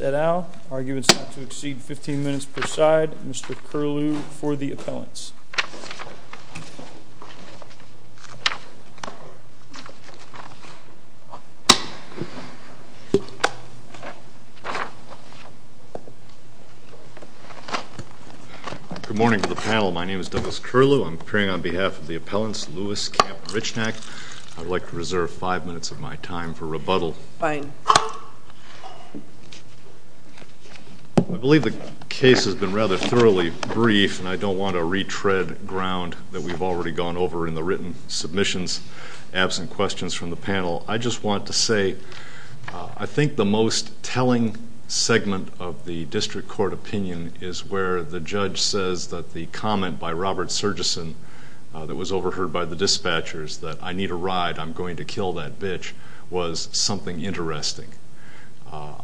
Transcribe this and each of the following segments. et al. Arguments not to exceed 15 minutes per side. Mr. Curlew for the appellants. Good morning to the panel. My name is Douglas Curlew. I'm appearing on behalf of the appellants, Lewis, Kapp, and Richnack. I would like to reserve five minutes of my time for rebuttal. Fine. I believe the case has been rather thoroughly brief, and I don't want to retread ground that we've already gone over in the written submissions, absent questions from the panel. I just want to say I think the most telling segment of the district court opinion is where the judge says that the comment by Robert Surgisson that was overheard by the dispatchers, that I need a ride, I'm going to kill that bitch, was something interesting.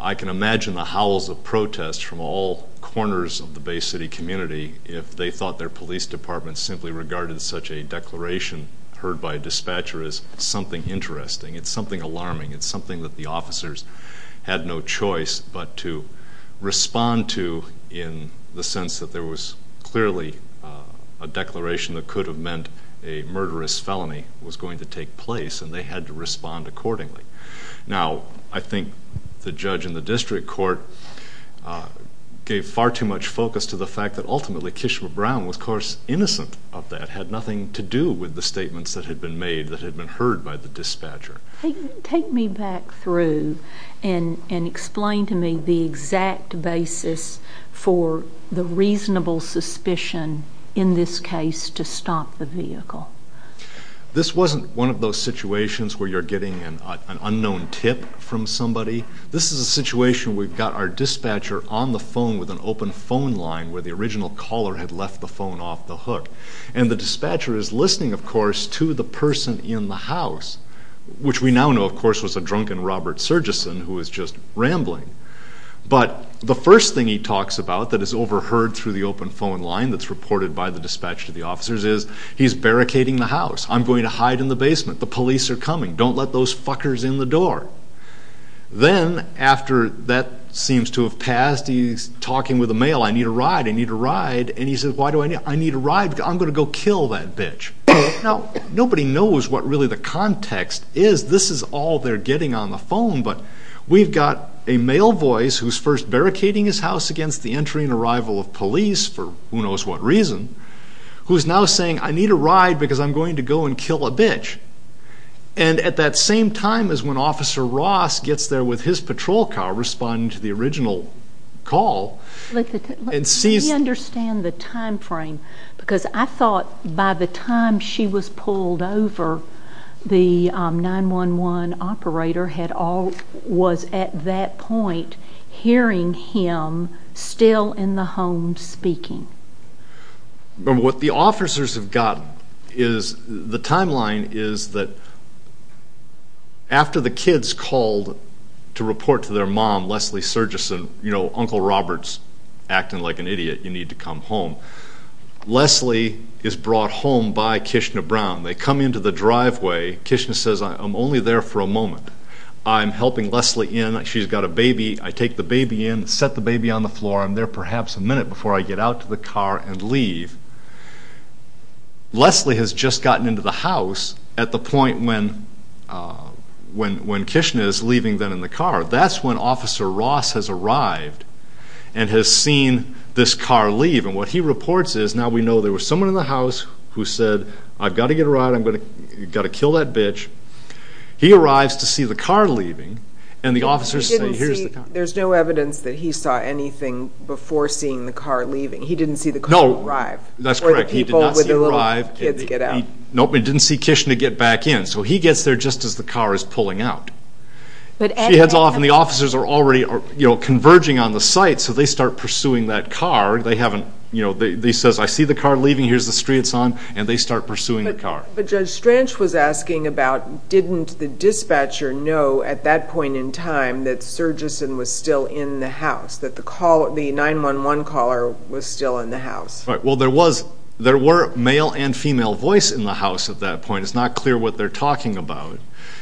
I can imagine the howls of protest from all corners of the Bay City community if they thought their police department simply regarded such a declaration heard by a dispatcher as something interesting. It's something alarming. It's something that the officers had no choice but to respond to in the sense that there was clearly a declaration that could have meant a murderous felony was going to take place, and they had to respond accordingly. Now, I think the judge in the district court gave far too much focus to the fact that ultimately Kishma Brown was, of course, innocent of that, had nothing to do with the statements that had been made that had been heard by the dispatcher. Take me back through and explain to me the exact basis for the reasonable suspicion in this case to stop the vehicle. This wasn't one of those situations where you're getting an unknown tip from somebody. This is a situation where we've got our dispatcher on the phone with an open phone line where the original caller had left the phone off the hook. And the dispatcher is listening, of course, to the person in the house, which we now know, of course, was a drunken Robert Surgisson who was just rambling. But the first thing he talks about that is overheard through the open phone line that's reported by the dispatcher to the officers is he's barricading the house. I'm going to hide in the basement. The police are coming. Don't let those fuckers in the door. Then after that seems to have passed, he's talking with a male. I need a ride. I need a ride. And he says, why do I need a ride? I'm going to go kill that bitch. Now, nobody knows what really the context is. This is all they're getting on the phone. But we've got a male voice who's first barricading his house against the entry and arrival of police for who knows what reason, who's now saying, I need a ride because I'm going to go and kill a bitch. And at that same time as when Officer Ross gets there with his patrol car responding to the original call and sees... Because I thought by the time she was pulled over, the 911 operator was at that point hearing him still in the home speaking. What the officers have gotten is the timeline is that after the kids called to report to their mom, Leslie Surgisson, you know Uncle Robert's acting like an idiot, you need to come home. Leslie is brought home by Kishna Brown. They come into the driveway. Kishna says, I'm only there for a moment. I'm helping Leslie in. She's got a baby. I take the baby in, set the baby on the floor. I'm there perhaps a minute before I get out to the car and leave. Leslie has just gotten into the house at the point when Kishna is leaving them in the car. That's when Officer Ross has arrived and has seen this car leave. And what he reports is, now we know there was someone in the house who said, I've got to get a ride. I've got to kill that bitch. He arrives to see the car leaving and the officers say, here's the car. There's no evidence that he saw anything before seeing the car leaving. He didn't see the car arrive. No, that's correct. He did not see it arrive. He didn't see Kishna get back in. So he gets there just as the car is pulling out. She heads off and the officers are already converging on the site. So they start pursuing that car. They say, I see the car leaving. Here's the street it's on. And they start pursuing the car. But Judge Stranch was asking about, didn't the dispatcher know at that point in time that Sergison was still in the house, that the 911 caller was still in the house? Well, there were male and female voice in the house at that point. It's not clear what they're talking about.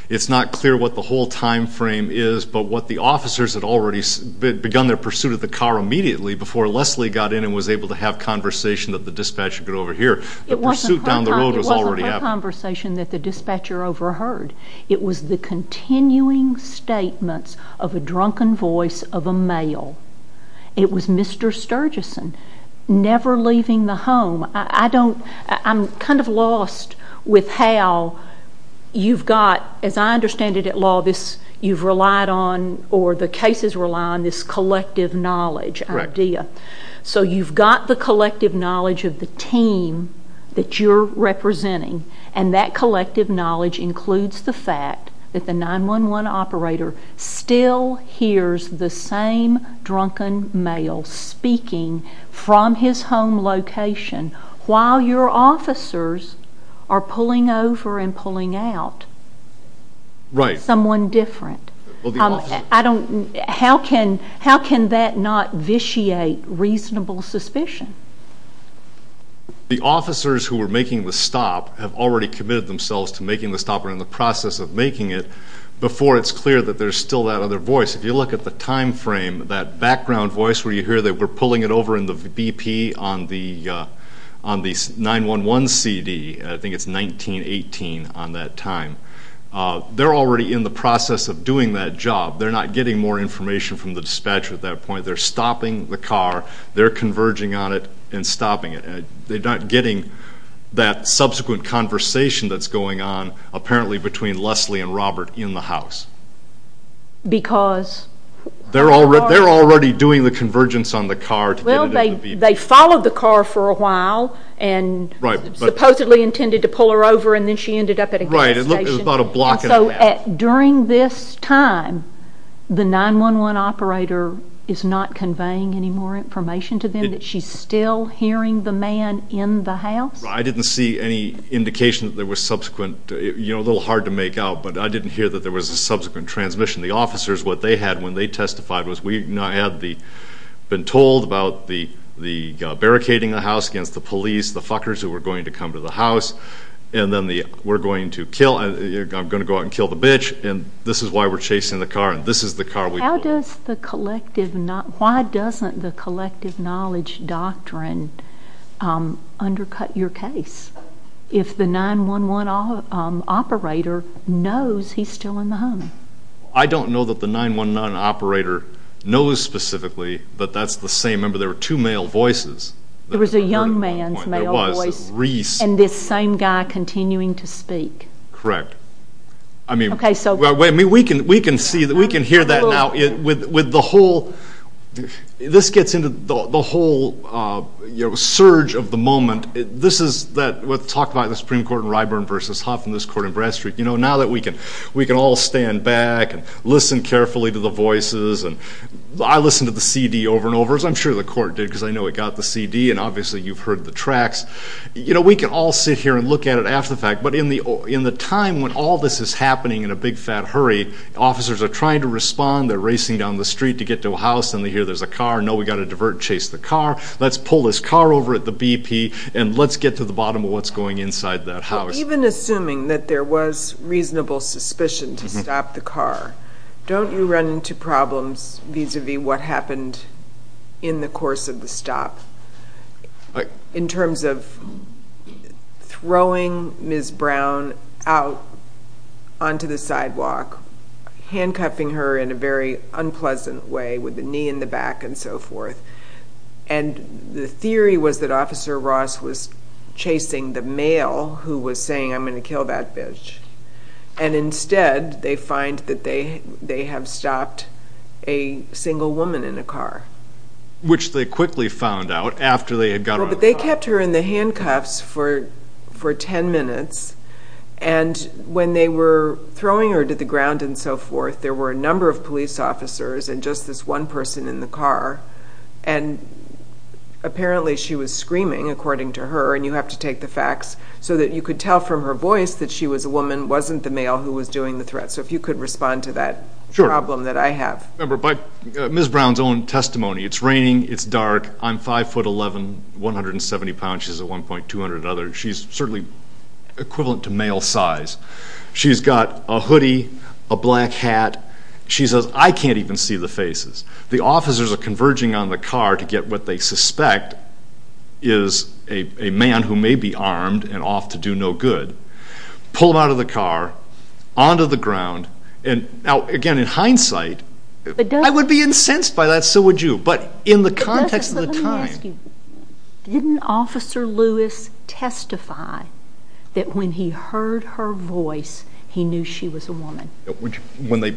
It's not clear what the whole time frame is, but what the officers had already begun their pursuit of the car immediately before Leslie got in and was able to have conversation that the dispatcher could overhear. The pursuit down the road was already happening. It wasn't a conversation that the dispatcher overheard. It was the continuing statements of a drunken voice of a male. It was Mr. Sergison never leaving the home. I'm kind of lost with how you've got, as I understand it at law, you've relied on or the cases rely on this collective knowledge idea. So you've got the collective knowledge of the team that you're representing, and that collective knowledge includes the fact that the 911 operator still hears the same drunken male speaking from his home location while your officers are pulling over and pulling out someone different. How can that not vitiate reasonable suspicion? The officers who were making the stop have already committed themselves to making the stop or in the process of making it before it's clear that there's still that other voice. If you look at the time frame, that background voice where you hear they were pulling it over in the BP on the 911 CD, I think it's 1918 on that time, they're already in the process of doing that job. They're not getting more information from the dispatcher at that point. They're stopping the car. They're converging on it and stopping it. They're not getting that subsequent conversation that's going on apparently between Leslie and Robert in the house. Because? They're already doing the convergence on the car to get it in the BP. Well, they followed the car for a while and supposedly intended to pull her over, and then she ended up at a gas station. Right. It was about a block and a half. During this time, the 911 operator is not conveying any more information to them and she's still hearing the man in the house? I didn't see any indication that there was subsequent, you know, a little hard to make out, but I didn't hear that there was a subsequent transmission. The officers, what they had when they testified, was we had been told about the barricading the house against the police, the fuckers who were going to come to the house, and then we're going to go out and kill the bitch, and this is why we're chasing the car, and this is the car we pulled. Why doesn't the collective knowledge doctrine undercut your case if the 911 operator knows he's still in the home? I don't know that the 911 operator knows specifically, but that's the same. Remember, there were two male voices. There was a young man's male voice and this same guy continuing to speak. Correct. Okay. We can hear that now. This gets into the whole surge of the moment. This is what's talked about in the Supreme Court in Ryburn v. Huff and this court in Bradstreet. You know, now that we can all stand back and listen carefully to the voices, I listened to the CD over and over, as I'm sure the court did because I know it got the CD, and obviously you've heard the tracks. You know, we can all sit here and look at it after the fact, but in the time when all this is happening in a big, fat hurry, officers are trying to respond. They're racing down the street to get to a house, and they hear there's a car. No, we've got to divert and chase the car. Let's pull this car over at the BP, and let's get to the bottom of what's going on inside that house. Even assuming that there was reasonable suspicion to stop the car, don't you run into problems vis-à-vis what happened in the course of the stop in terms of throwing Ms. Brown out onto the sidewalk, handcuffing her in a very unpleasant way with the knee in the back and so forth? And the theory was that Officer Ross was chasing the male who was saying, I'm going to kill that bitch, and instead they find that they have stopped a single woman in a car. Which they quickly found out after they had gotten out of the car. But they kept her in the handcuffs for 10 minutes, and when they were throwing her to the ground and so forth, there were a number of police officers and just this one person in the car, and apparently she was screaming, according to her, and you have to take the facts so that you could tell from her voice that she was a woman, wasn't the male who was doing the threat. So if you could respond to that problem that I have. Remember, by Ms. Brown's own testimony, it's raining, it's dark, I'm 5'11", 170 pounds, she's a 1.200 other. She's certainly equivalent to male size. She's got a hoodie, a black hat. She says, I can't even see the faces. The officers are converging on the car to get what they suspect is a man who may be armed and off to do no good. Pulled out of the car, onto the ground, and now, again, in hindsight, I would be incensed by that, so would you, but in the context of the time. Let me ask you, didn't Officer Lewis testify that when he heard her voice, he knew she was a woman? When they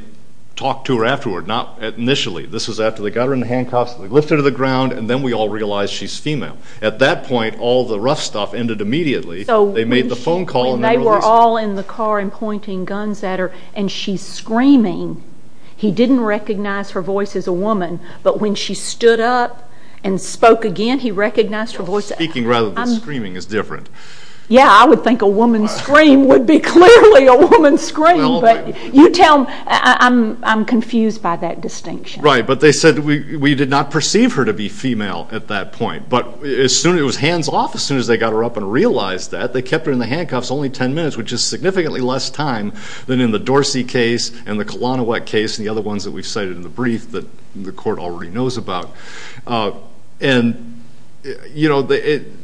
talked to her afterward, not initially. This was after they got her in the handcuffs, they lifted her to the ground, and then we all realized she's female. At that point, all the rough stuff ended immediately. They made the phone call and they realized it. She's all in the car and pointing guns at her, and she's screaming. He didn't recognize her voice as a woman, but when she stood up and spoke again, he recognized her voice. Speaking rather than screaming is different. Yeah, I would think a woman's scream would be clearly a woman's scream, but you tell them, I'm confused by that distinction. Right, but they said we did not perceive her to be female at that point, but it was hands off as soon as they got her up and realized that. They kept her in the handcuffs only 10 minutes, which is significantly less time than in the Dorsey case and the Kalanowicz case and the other ones that we've cited in the brief that the court already knows about. And, you know, again,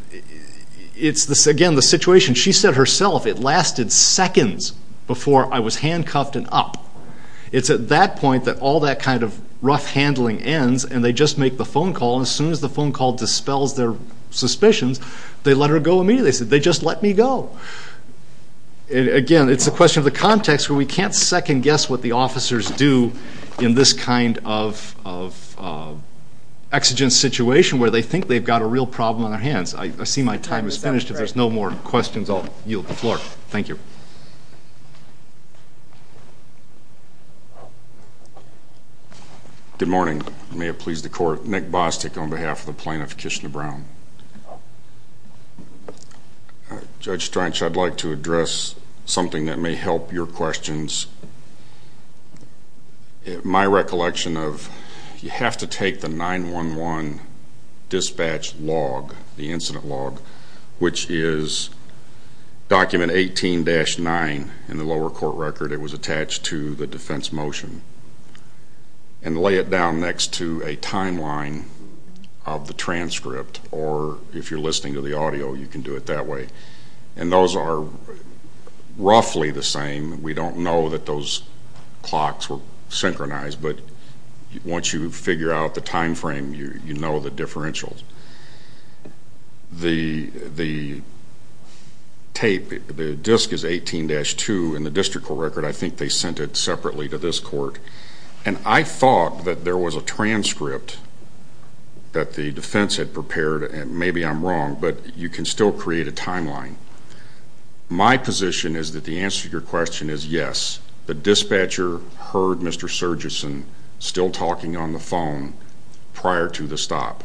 the situation, she said herself, it lasted seconds before I was handcuffed and up. It's at that point that all that kind of rough handling ends, and they just make the phone call, and as soon as the phone call dispels their suspicions, they let her go immediately. They said, they just let me go. Again, it's a question of the context where we can't second guess what the officers do in this kind of exigent situation where they think they've got a real problem on their hands. I see my time is finished. If there's no more questions, I'll yield the floor. Thank you. Good morning. Good morning. May it please the court, Nick Bostick on behalf of the plaintiff, Kishna Brown. Judge Stranch, I'd like to address something that may help your questions. My recollection of you have to take the 911 dispatch log, the incident log, which is document 18-9 in the lower court record. It was attached to the defense motion. And lay it down next to a timeline of the transcript, or if you're listening to the audio, you can do it that way. And those are roughly the same. We don't know that those clocks were synchronized, but once you figure out the time frame, you know the differentials. The tape, the disk is 18-2 in the district court record. I think they sent it separately to this court. And I thought that there was a transcript that the defense had prepared, and maybe I'm wrong, but you can still create a timeline. My position is that the answer to your question is yes. The dispatcher heard Mr. Surgisson still talking on the phone prior to the stop.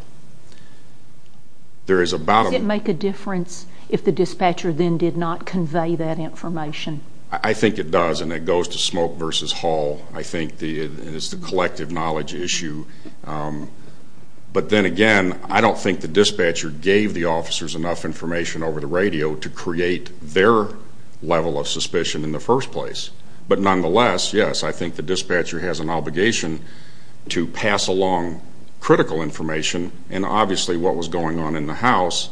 Does it make a difference if the dispatcher then did not convey that information? I think it does, and it goes to Smoke v. Hall. I think it's the collective knowledge issue. But then again, I don't think the dispatcher gave the officers enough information over the radio to create their level of suspicion in the first place. But nonetheless, yes, I think the dispatcher has an obligation to pass along critical information, and obviously what was going on in the house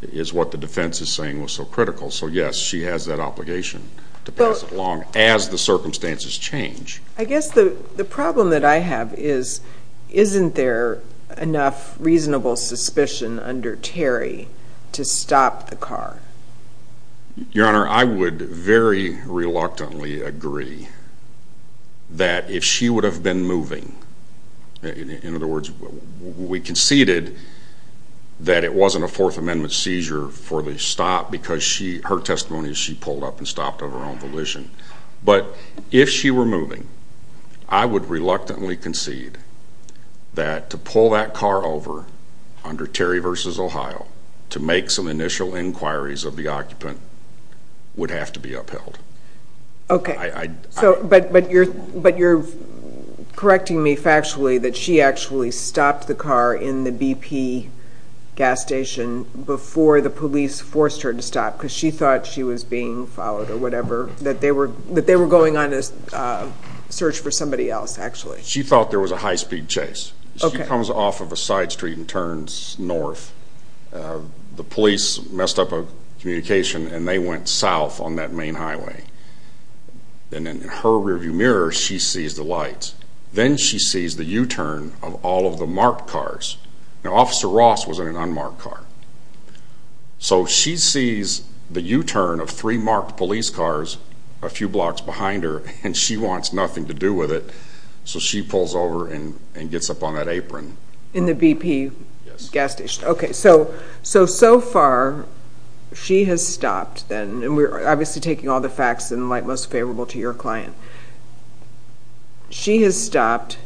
is what the defense is saying was so critical. So yes, she has that obligation to pass it along as the circumstances change. I guess the problem that I have is isn't there enough reasonable suspicion under Terry to stop the car? Your Honor, I would very reluctantly agree that if she would have been moving, in other words, we conceded that it wasn't a Fourth Amendment seizure for the stop because her testimony is she pulled up and stopped of her own volition. But if she were moving, I would reluctantly concede that to pull that car over under Terry v. Ohio to make some initial inquiries of the occupant would have to be upheld. Okay, but you're correcting me factually that she actually stopped the car in the BP gas station before the police forced her to stop because she thought she was being followed or whatever, that they were going on a search for somebody else, actually? She thought there was a high-speed chase. She comes off of a side street and turns north. The police messed up a communication, and they went south on that main highway. And in her rearview mirror, she sees the lights. Then she sees the U-turn of all of the marked cars. Now, Officer Ross was in an unmarked car. So she sees the U-turn of three marked police cars a few blocks behind her, and she wants nothing to do with it, so she pulls over and gets up on that apron. In the BP gas station? Yes. Okay, so so far she has stopped, and we're obviously taking all the facts in the light most favorable to your client. She has stopped.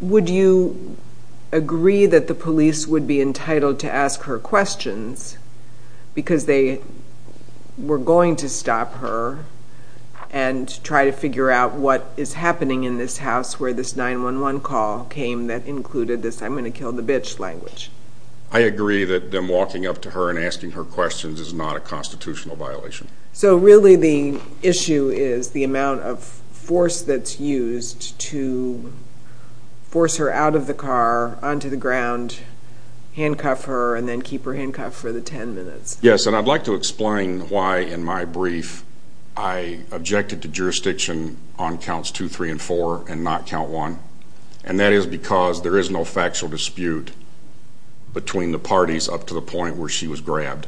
Would you agree that the police would be entitled to ask her questions because they were going to stop her and try to figure out what is happening in this house where this 911 call came that included this I'm going to kill the bitch language? I agree that them walking up to her and asking her questions is not a constitutional violation. So really the issue is the amount of force that's used to force her out of the car, onto the ground, handcuff her, and then keep her handcuffed for the 10 minutes. Yes, and I'd like to explain why in my brief I objected to jurisdiction on counts 2, 3, and 4 and not count 1, and that is because there is no factual dispute between the parties up to the point where she was grabbed.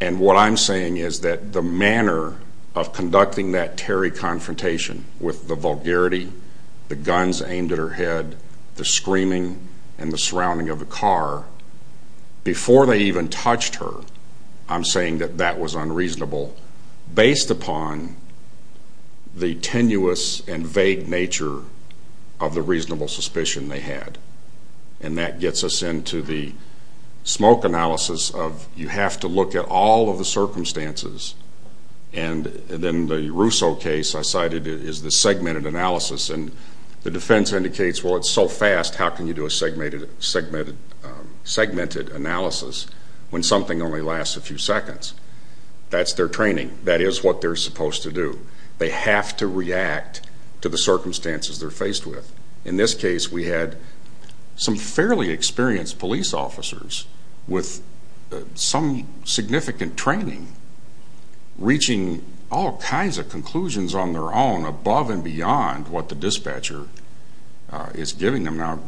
And what I'm saying is that the manner of conducting that Terry confrontation with the vulgarity, the guns aimed at her head, the screaming, and the surrounding of the car, before they even touched her, I'm saying that that was unreasonable based upon the tenuous and vague nature of the reasonable suspicion they had. And that gets us into the smoke analysis of you have to look at all of the circumstances. And then the Russo case I cited is the segmented analysis, and the defense indicates, well, it's so fast, how can you do a segmented analysis when something only lasts a few seconds? That's their training. That is what they're supposed to do. They have to react to the circumstances they're faced with. In this case, we had some fairly experienced police officers with some significant training reaching all kinds of conclusions on their own above and beyond what the dispatcher is giving them. Now,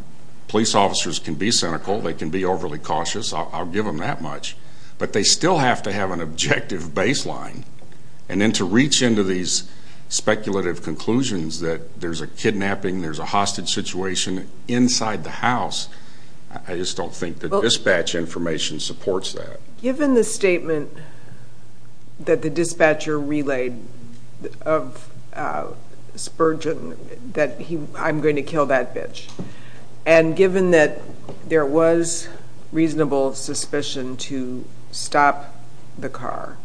police officers can be cynical, they can be overly cautious, I'll give them that much, but they still have to have an objective baseline. And then to reach into these speculative conclusions that there's a kidnapping, there's a hostage situation inside the house, I just don't think the dispatch information supports that. Given the statement that the dispatcher relayed of Spurgeon that I'm going to kill that bitch, and given that there was reasonable suspicion to stop the car,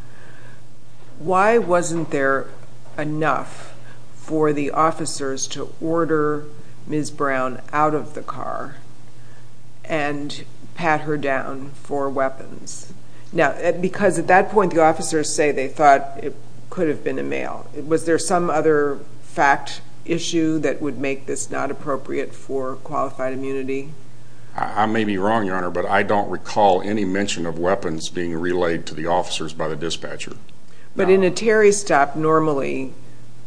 why wasn't there enough for the officers to order Ms. Brown out of the car and pat her down for weapons? Now, because at that point the officers say they thought it could have been a male. Was there some other fact issue that would make this not appropriate for qualified immunity? I may be wrong, Your Honor, but I don't recall any mention of weapons being relayed to the officers by the dispatcher. But in a Terry stop, normally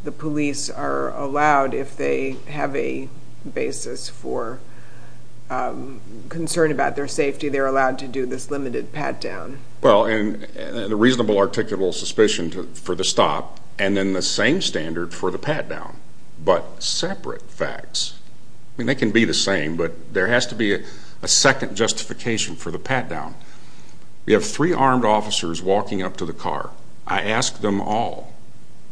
the police are allowed, if they have a basis for concern about their safety, they're allowed to do this limited pat-down. Well, and a reasonable articulable suspicion for the stop, and then the same standard for the pat-down, but separate facts. I mean, they can be the same, but there has to be a second justification for the pat-down. We have three armed officers walking up to the car. I asked them all,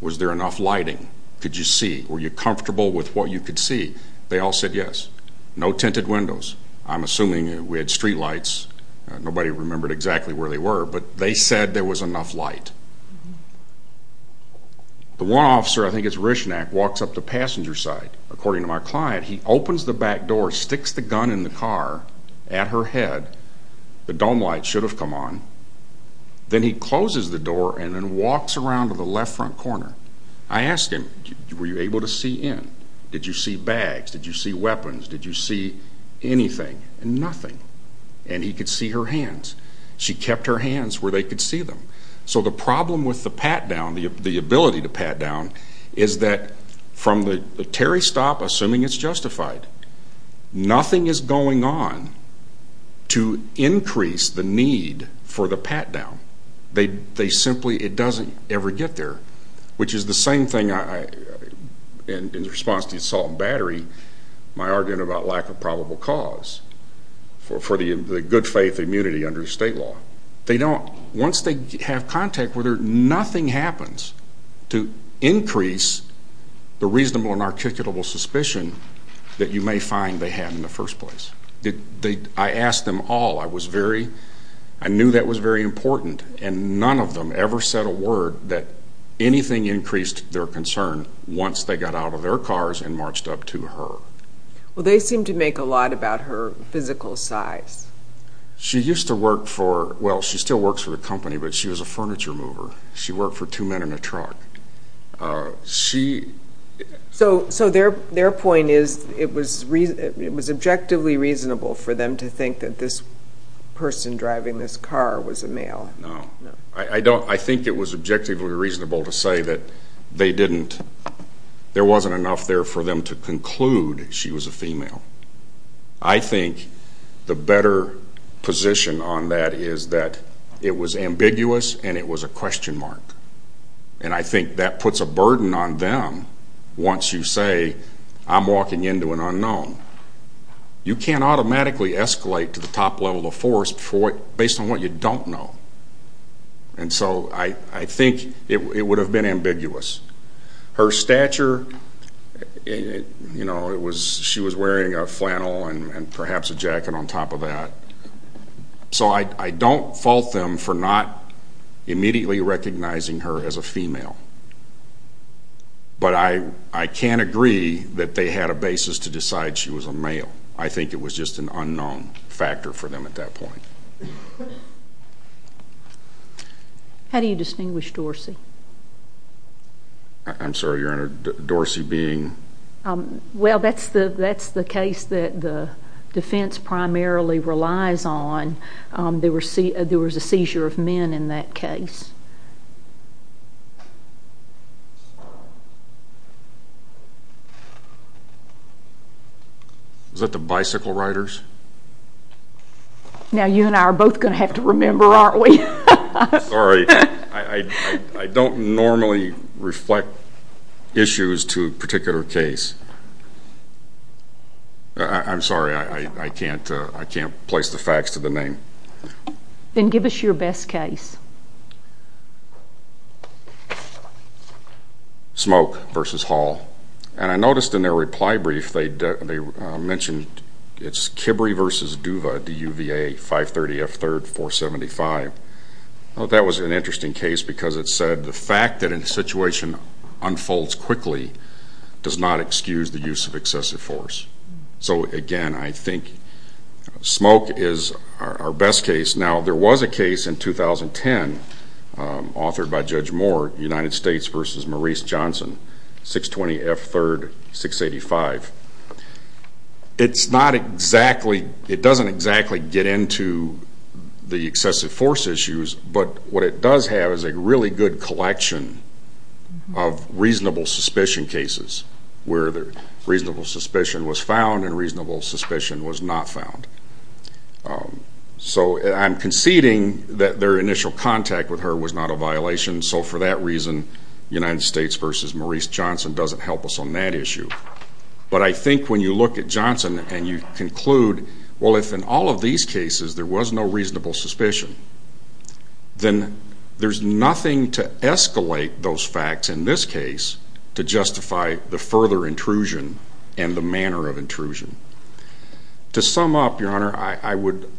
was there enough lighting? Could you see? Were you comfortable with what you could see? They all said yes. No tinted windows. I'm assuming we had street lights. Nobody remembered exactly where they were, but they said there was enough light. The one officer, I think it's Reschnack, walks up to passenger side. According to my client, he opens the back door, sticks the gun in the car at her head. The dome light should have come on. Then he closes the door and then walks around to the left front corner. I asked him, were you able to see in? Did you see bags? Did you see weapons? Did you see anything? Nothing. And he could see her hands. She kept her hands where they could see them. So the problem with the pat-down, the ability to pat down, is that from the Terry stop, assuming it's justified, nothing is going on to increase the need for the pat-down. They simply, it doesn't ever get there, which is the same thing in response to assault and battery, my argument about lack of probable cause for the good faith immunity under state law. Once they have contact with her, nothing happens to increase the reasonable and articulable suspicion that you may find they had in the first place. I asked them all. I was very, I knew that was very important, and none of them ever said a word that anything increased their concern once they got out of their cars and marched up to her. Well, they seem to make a lot about her physical size. She used to work for, well, she still works for the company, but she was a furniture mover. She worked for two men in a truck. So their point is it was objectively reasonable for them to think that this person driving this car was a male. No. I think it was objectively reasonable to say that they didn't, I think the better position on that is that it was ambiguous and it was a question mark. And I think that puts a burden on them once you say I'm walking into an unknown. You can't automatically escalate to the top level of force based on what you don't know. And so I think it would have been ambiguous. Her stature, you know, she was wearing a flannel and perhaps a jacket on top of that. So I don't fault them for not immediately recognizing her as a female. But I can't agree that they had a basis to decide she was a male. I think it was just an unknown factor for them at that point. How do you distinguish Dorsey? I'm sorry, Your Honor, Dorsey being? Well, that's the case that the defense primarily relies on. There was a seizure of men in that case. Is that the bicycle riders? Now you and I are both going to have to remember, aren't we? Sorry, I don't normally reflect issues to a particular case. I'm sorry, I can't place the facts to the name. Then give us your best case. Smoke versus Hall. And I noticed in their reply brief they mentioned it's Kibre versus Duva, D-U-V-A, 530 F. 3rd, 475. I thought that was an interesting case because it said the fact that a situation unfolds quickly does not excuse the use of excessive force. So, again, I think Smoke is our best case. Now, there was a case in 2010 authored by Judge Moore, United States versus Maurice Johnson, 620 F. 3rd, 685. It doesn't exactly get into the excessive force issues, but what it does have is a really good collection of reasonable suspicion cases where reasonable suspicion was found and reasonable suspicion was not found. So I'm conceding that their initial contact with her was not a violation, so for that reason United States versus Maurice Johnson doesn't help us on that issue. But I think when you look at Johnson and you conclude, well, if in all of these cases there was no reasonable suspicion, then there's nothing to escalate those facts in this case to justify the further intrusion and the manner of intrusion. To sum up, Your Honor, I would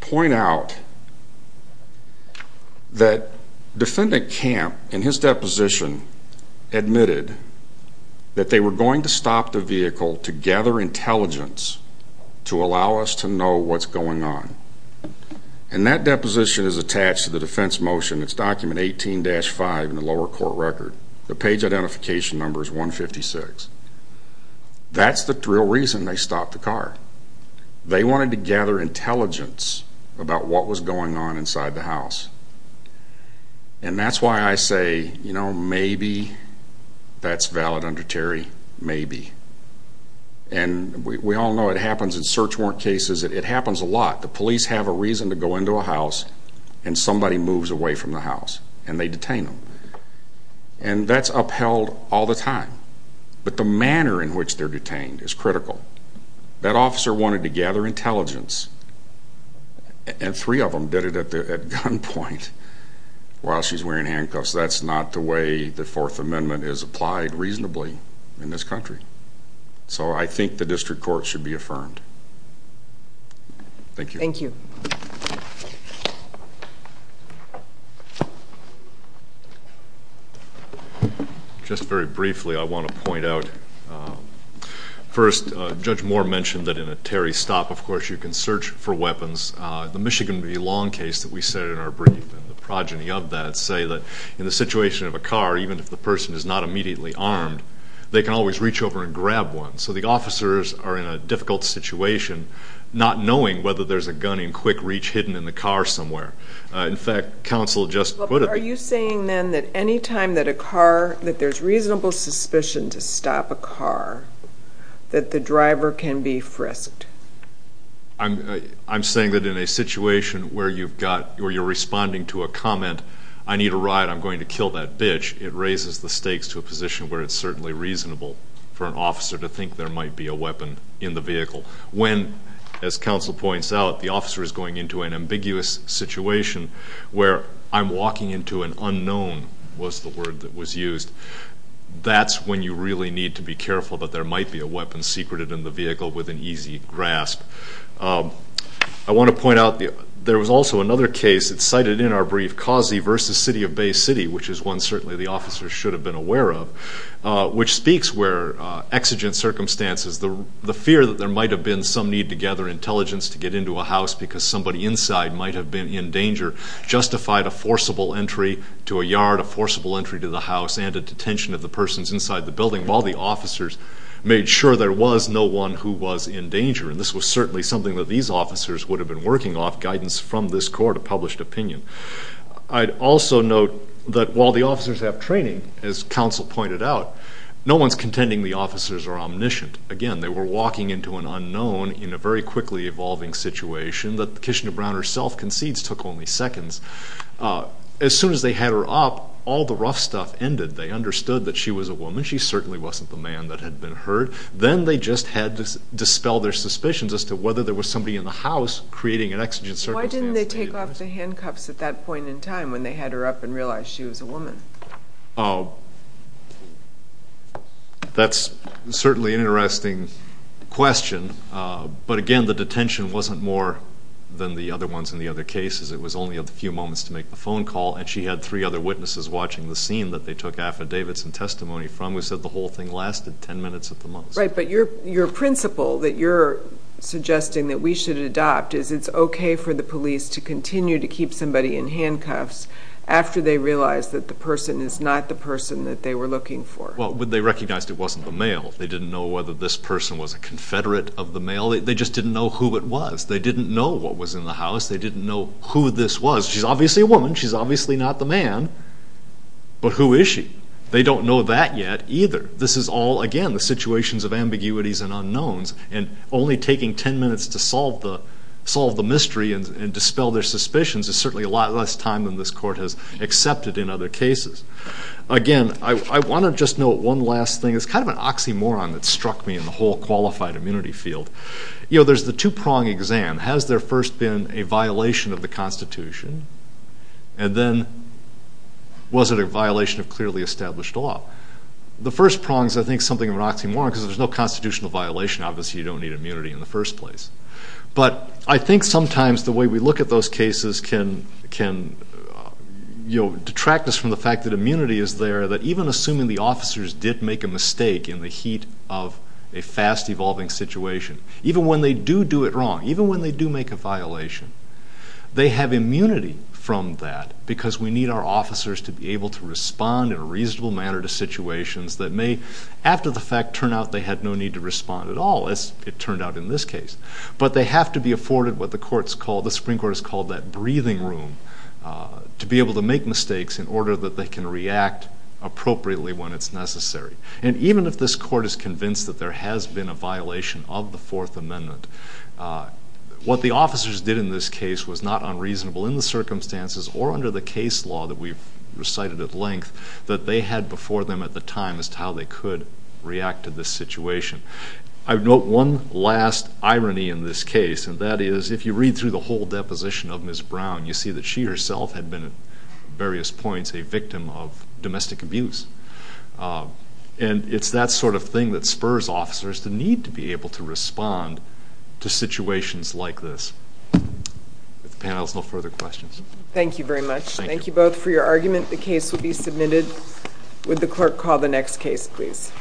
point out that Defendant Camp, in his deposition, admitted that they were going to stop the vehicle to gather intelligence to allow us to know what's going on. And that deposition is attached to the defense motion. It's document 18-5 in the lower court record. The page identification number is 156. That's the real reason they stopped the car. They wanted to gather intelligence about what was going on inside the house. And that's why I say, you know, maybe that's valid under Terry, maybe. And we all know it happens in search warrant cases. It happens a lot. The police have a reason to go into a house and somebody moves away from the house and they detain them. And that's upheld all the time. But the manner in which they're detained is critical. That officer wanted to gather intelligence and three of them did it at gunpoint while she's wearing handcuffs. That's not the way the Fourth Amendment is applied reasonably in this country. So I think the district court should be affirmed. Thank you. Thank you. Just very briefly, I want to point out, first, Judge Moore mentioned that in a Terry stop, of course, you can search for weapons. The Michigan v. Long case that we said in our brief and the progeny of that say that in the situation of a car, even if the person is not immediately armed, they can always reach over and grab one. So the officers are in a difficult situation not knowing whether there's a gun in quick reach hidden in the car somewhere. In fact, counsel just put it. Are you saying then that any time that a car, that there's reasonable suspicion to stop a car, that the driver can be frisked? I'm saying that in a situation where you're responding to a comment, I need a ride, I'm going to kill that bitch, it raises the stakes to a position where it's certainly reasonable for an officer to think there might be a weapon in the vehicle. When, as counsel points out, the officer is going into an ambiguous situation where I'm walking into an unknown, was the word that was used, that's when you really need to be careful that there might be a weapon secreted in the vehicle with an easy grasp. I want to point out, there was also another case that's cited in our brief, Causey v. City of Bay City, which is one certainly the officers should have been aware of, which speaks where exigent circumstances, the fear that there might have been some need to gather intelligence to get into a house because somebody inside might have been in danger, justified a forcible entry to a yard, a forcible entry to the house, and a detention of the persons inside the building while the officers made sure there was no one who was in danger. And this was certainly something that these officers would have been working off, guidance from this court, a published opinion. I'd also note that while the officers have training, as counsel pointed out, no one's contending the officers are omniscient. Again, they were walking into an unknown in a very quickly evolving situation that Kishina Brown herself concedes took only seconds. As soon as they had her up, all the rough stuff ended. They understood that she was a woman, she certainly wasn't the man that had been hurt. Then they just had to dispel their suspicions as to whether there was somebody in the house creating an exigent circumstance. Why didn't they take off the handcuffs at that point in time when they had her up and realized she was a woman? Oh, that's certainly an interesting question. But again, the detention wasn't more than the other ones in the other cases. It was only a few moments to make the phone call, and she had three other witnesses watching the scene that they took affidavits and testimony from and we said the whole thing lasted ten minutes at the most. Right, but your principle that you're suggesting that we should adopt is it's okay for the police to continue to keep somebody in handcuffs after they realize that the person is not the person that they were looking for. Well, they recognized it wasn't the male. They didn't know whether this person was a confederate of the male. They just didn't know who it was. They didn't know what was in the house. They didn't know who this was. She's obviously a woman. She's obviously not the man. But who is she? They don't know that yet either. This is all, again, the situations of ambiguities and unknowns, and only taking ten minutes to solve the mystery and dispel their suspicions is certainly a lot less time than this court has accepted in other cases. Again, I want to just note one last thing. It's kind of an oxymoron that struck me in the whole qualified immunity field. You know, there's the two-prong exam. Has there first been a violation of the Constitution? And then was it a violation of clearly established law? The first prong is, I think, something of an oxymoron because there's no constitutional violation. Obviously, you don't need immunity in the first place. But I think sometimes the way we look at those cases can detract us from the fact that immunity is there, that even assuming the officers did make a mistake in the heat of a fast-evolving situation, even when they do do it wrong, even when they do make a violation, they have immunity from that because we need our officers to be able to respond in a reasonable manner to situations that may, after the fact, turn out they had no need to respond at all, as it turned out in this case. But they have to be afforded what the Supreme Court has called that breathing room to be able to make mistakes in order that they can react appropriately when it's necessary. And even if this court is convinced that there has been a violation of the Fourth Amendment, what the officers did in this case was not unreasonable in the circumstances or under the case law that we've recited at length that they had before them at the time as to how they could react to this situation. I would note one last irony in this case, and that is if you read through the whole deposition of Ms. Brown, you see that she herself had been at various points a victim of domestic abuse. And it's that sort of thing that spurs officers the need to be able to respond to situations like this. If the panel has no further questions. Thank you very much. Thank you both for your argument. The case will be submitted. Would the clerk call the next case, please?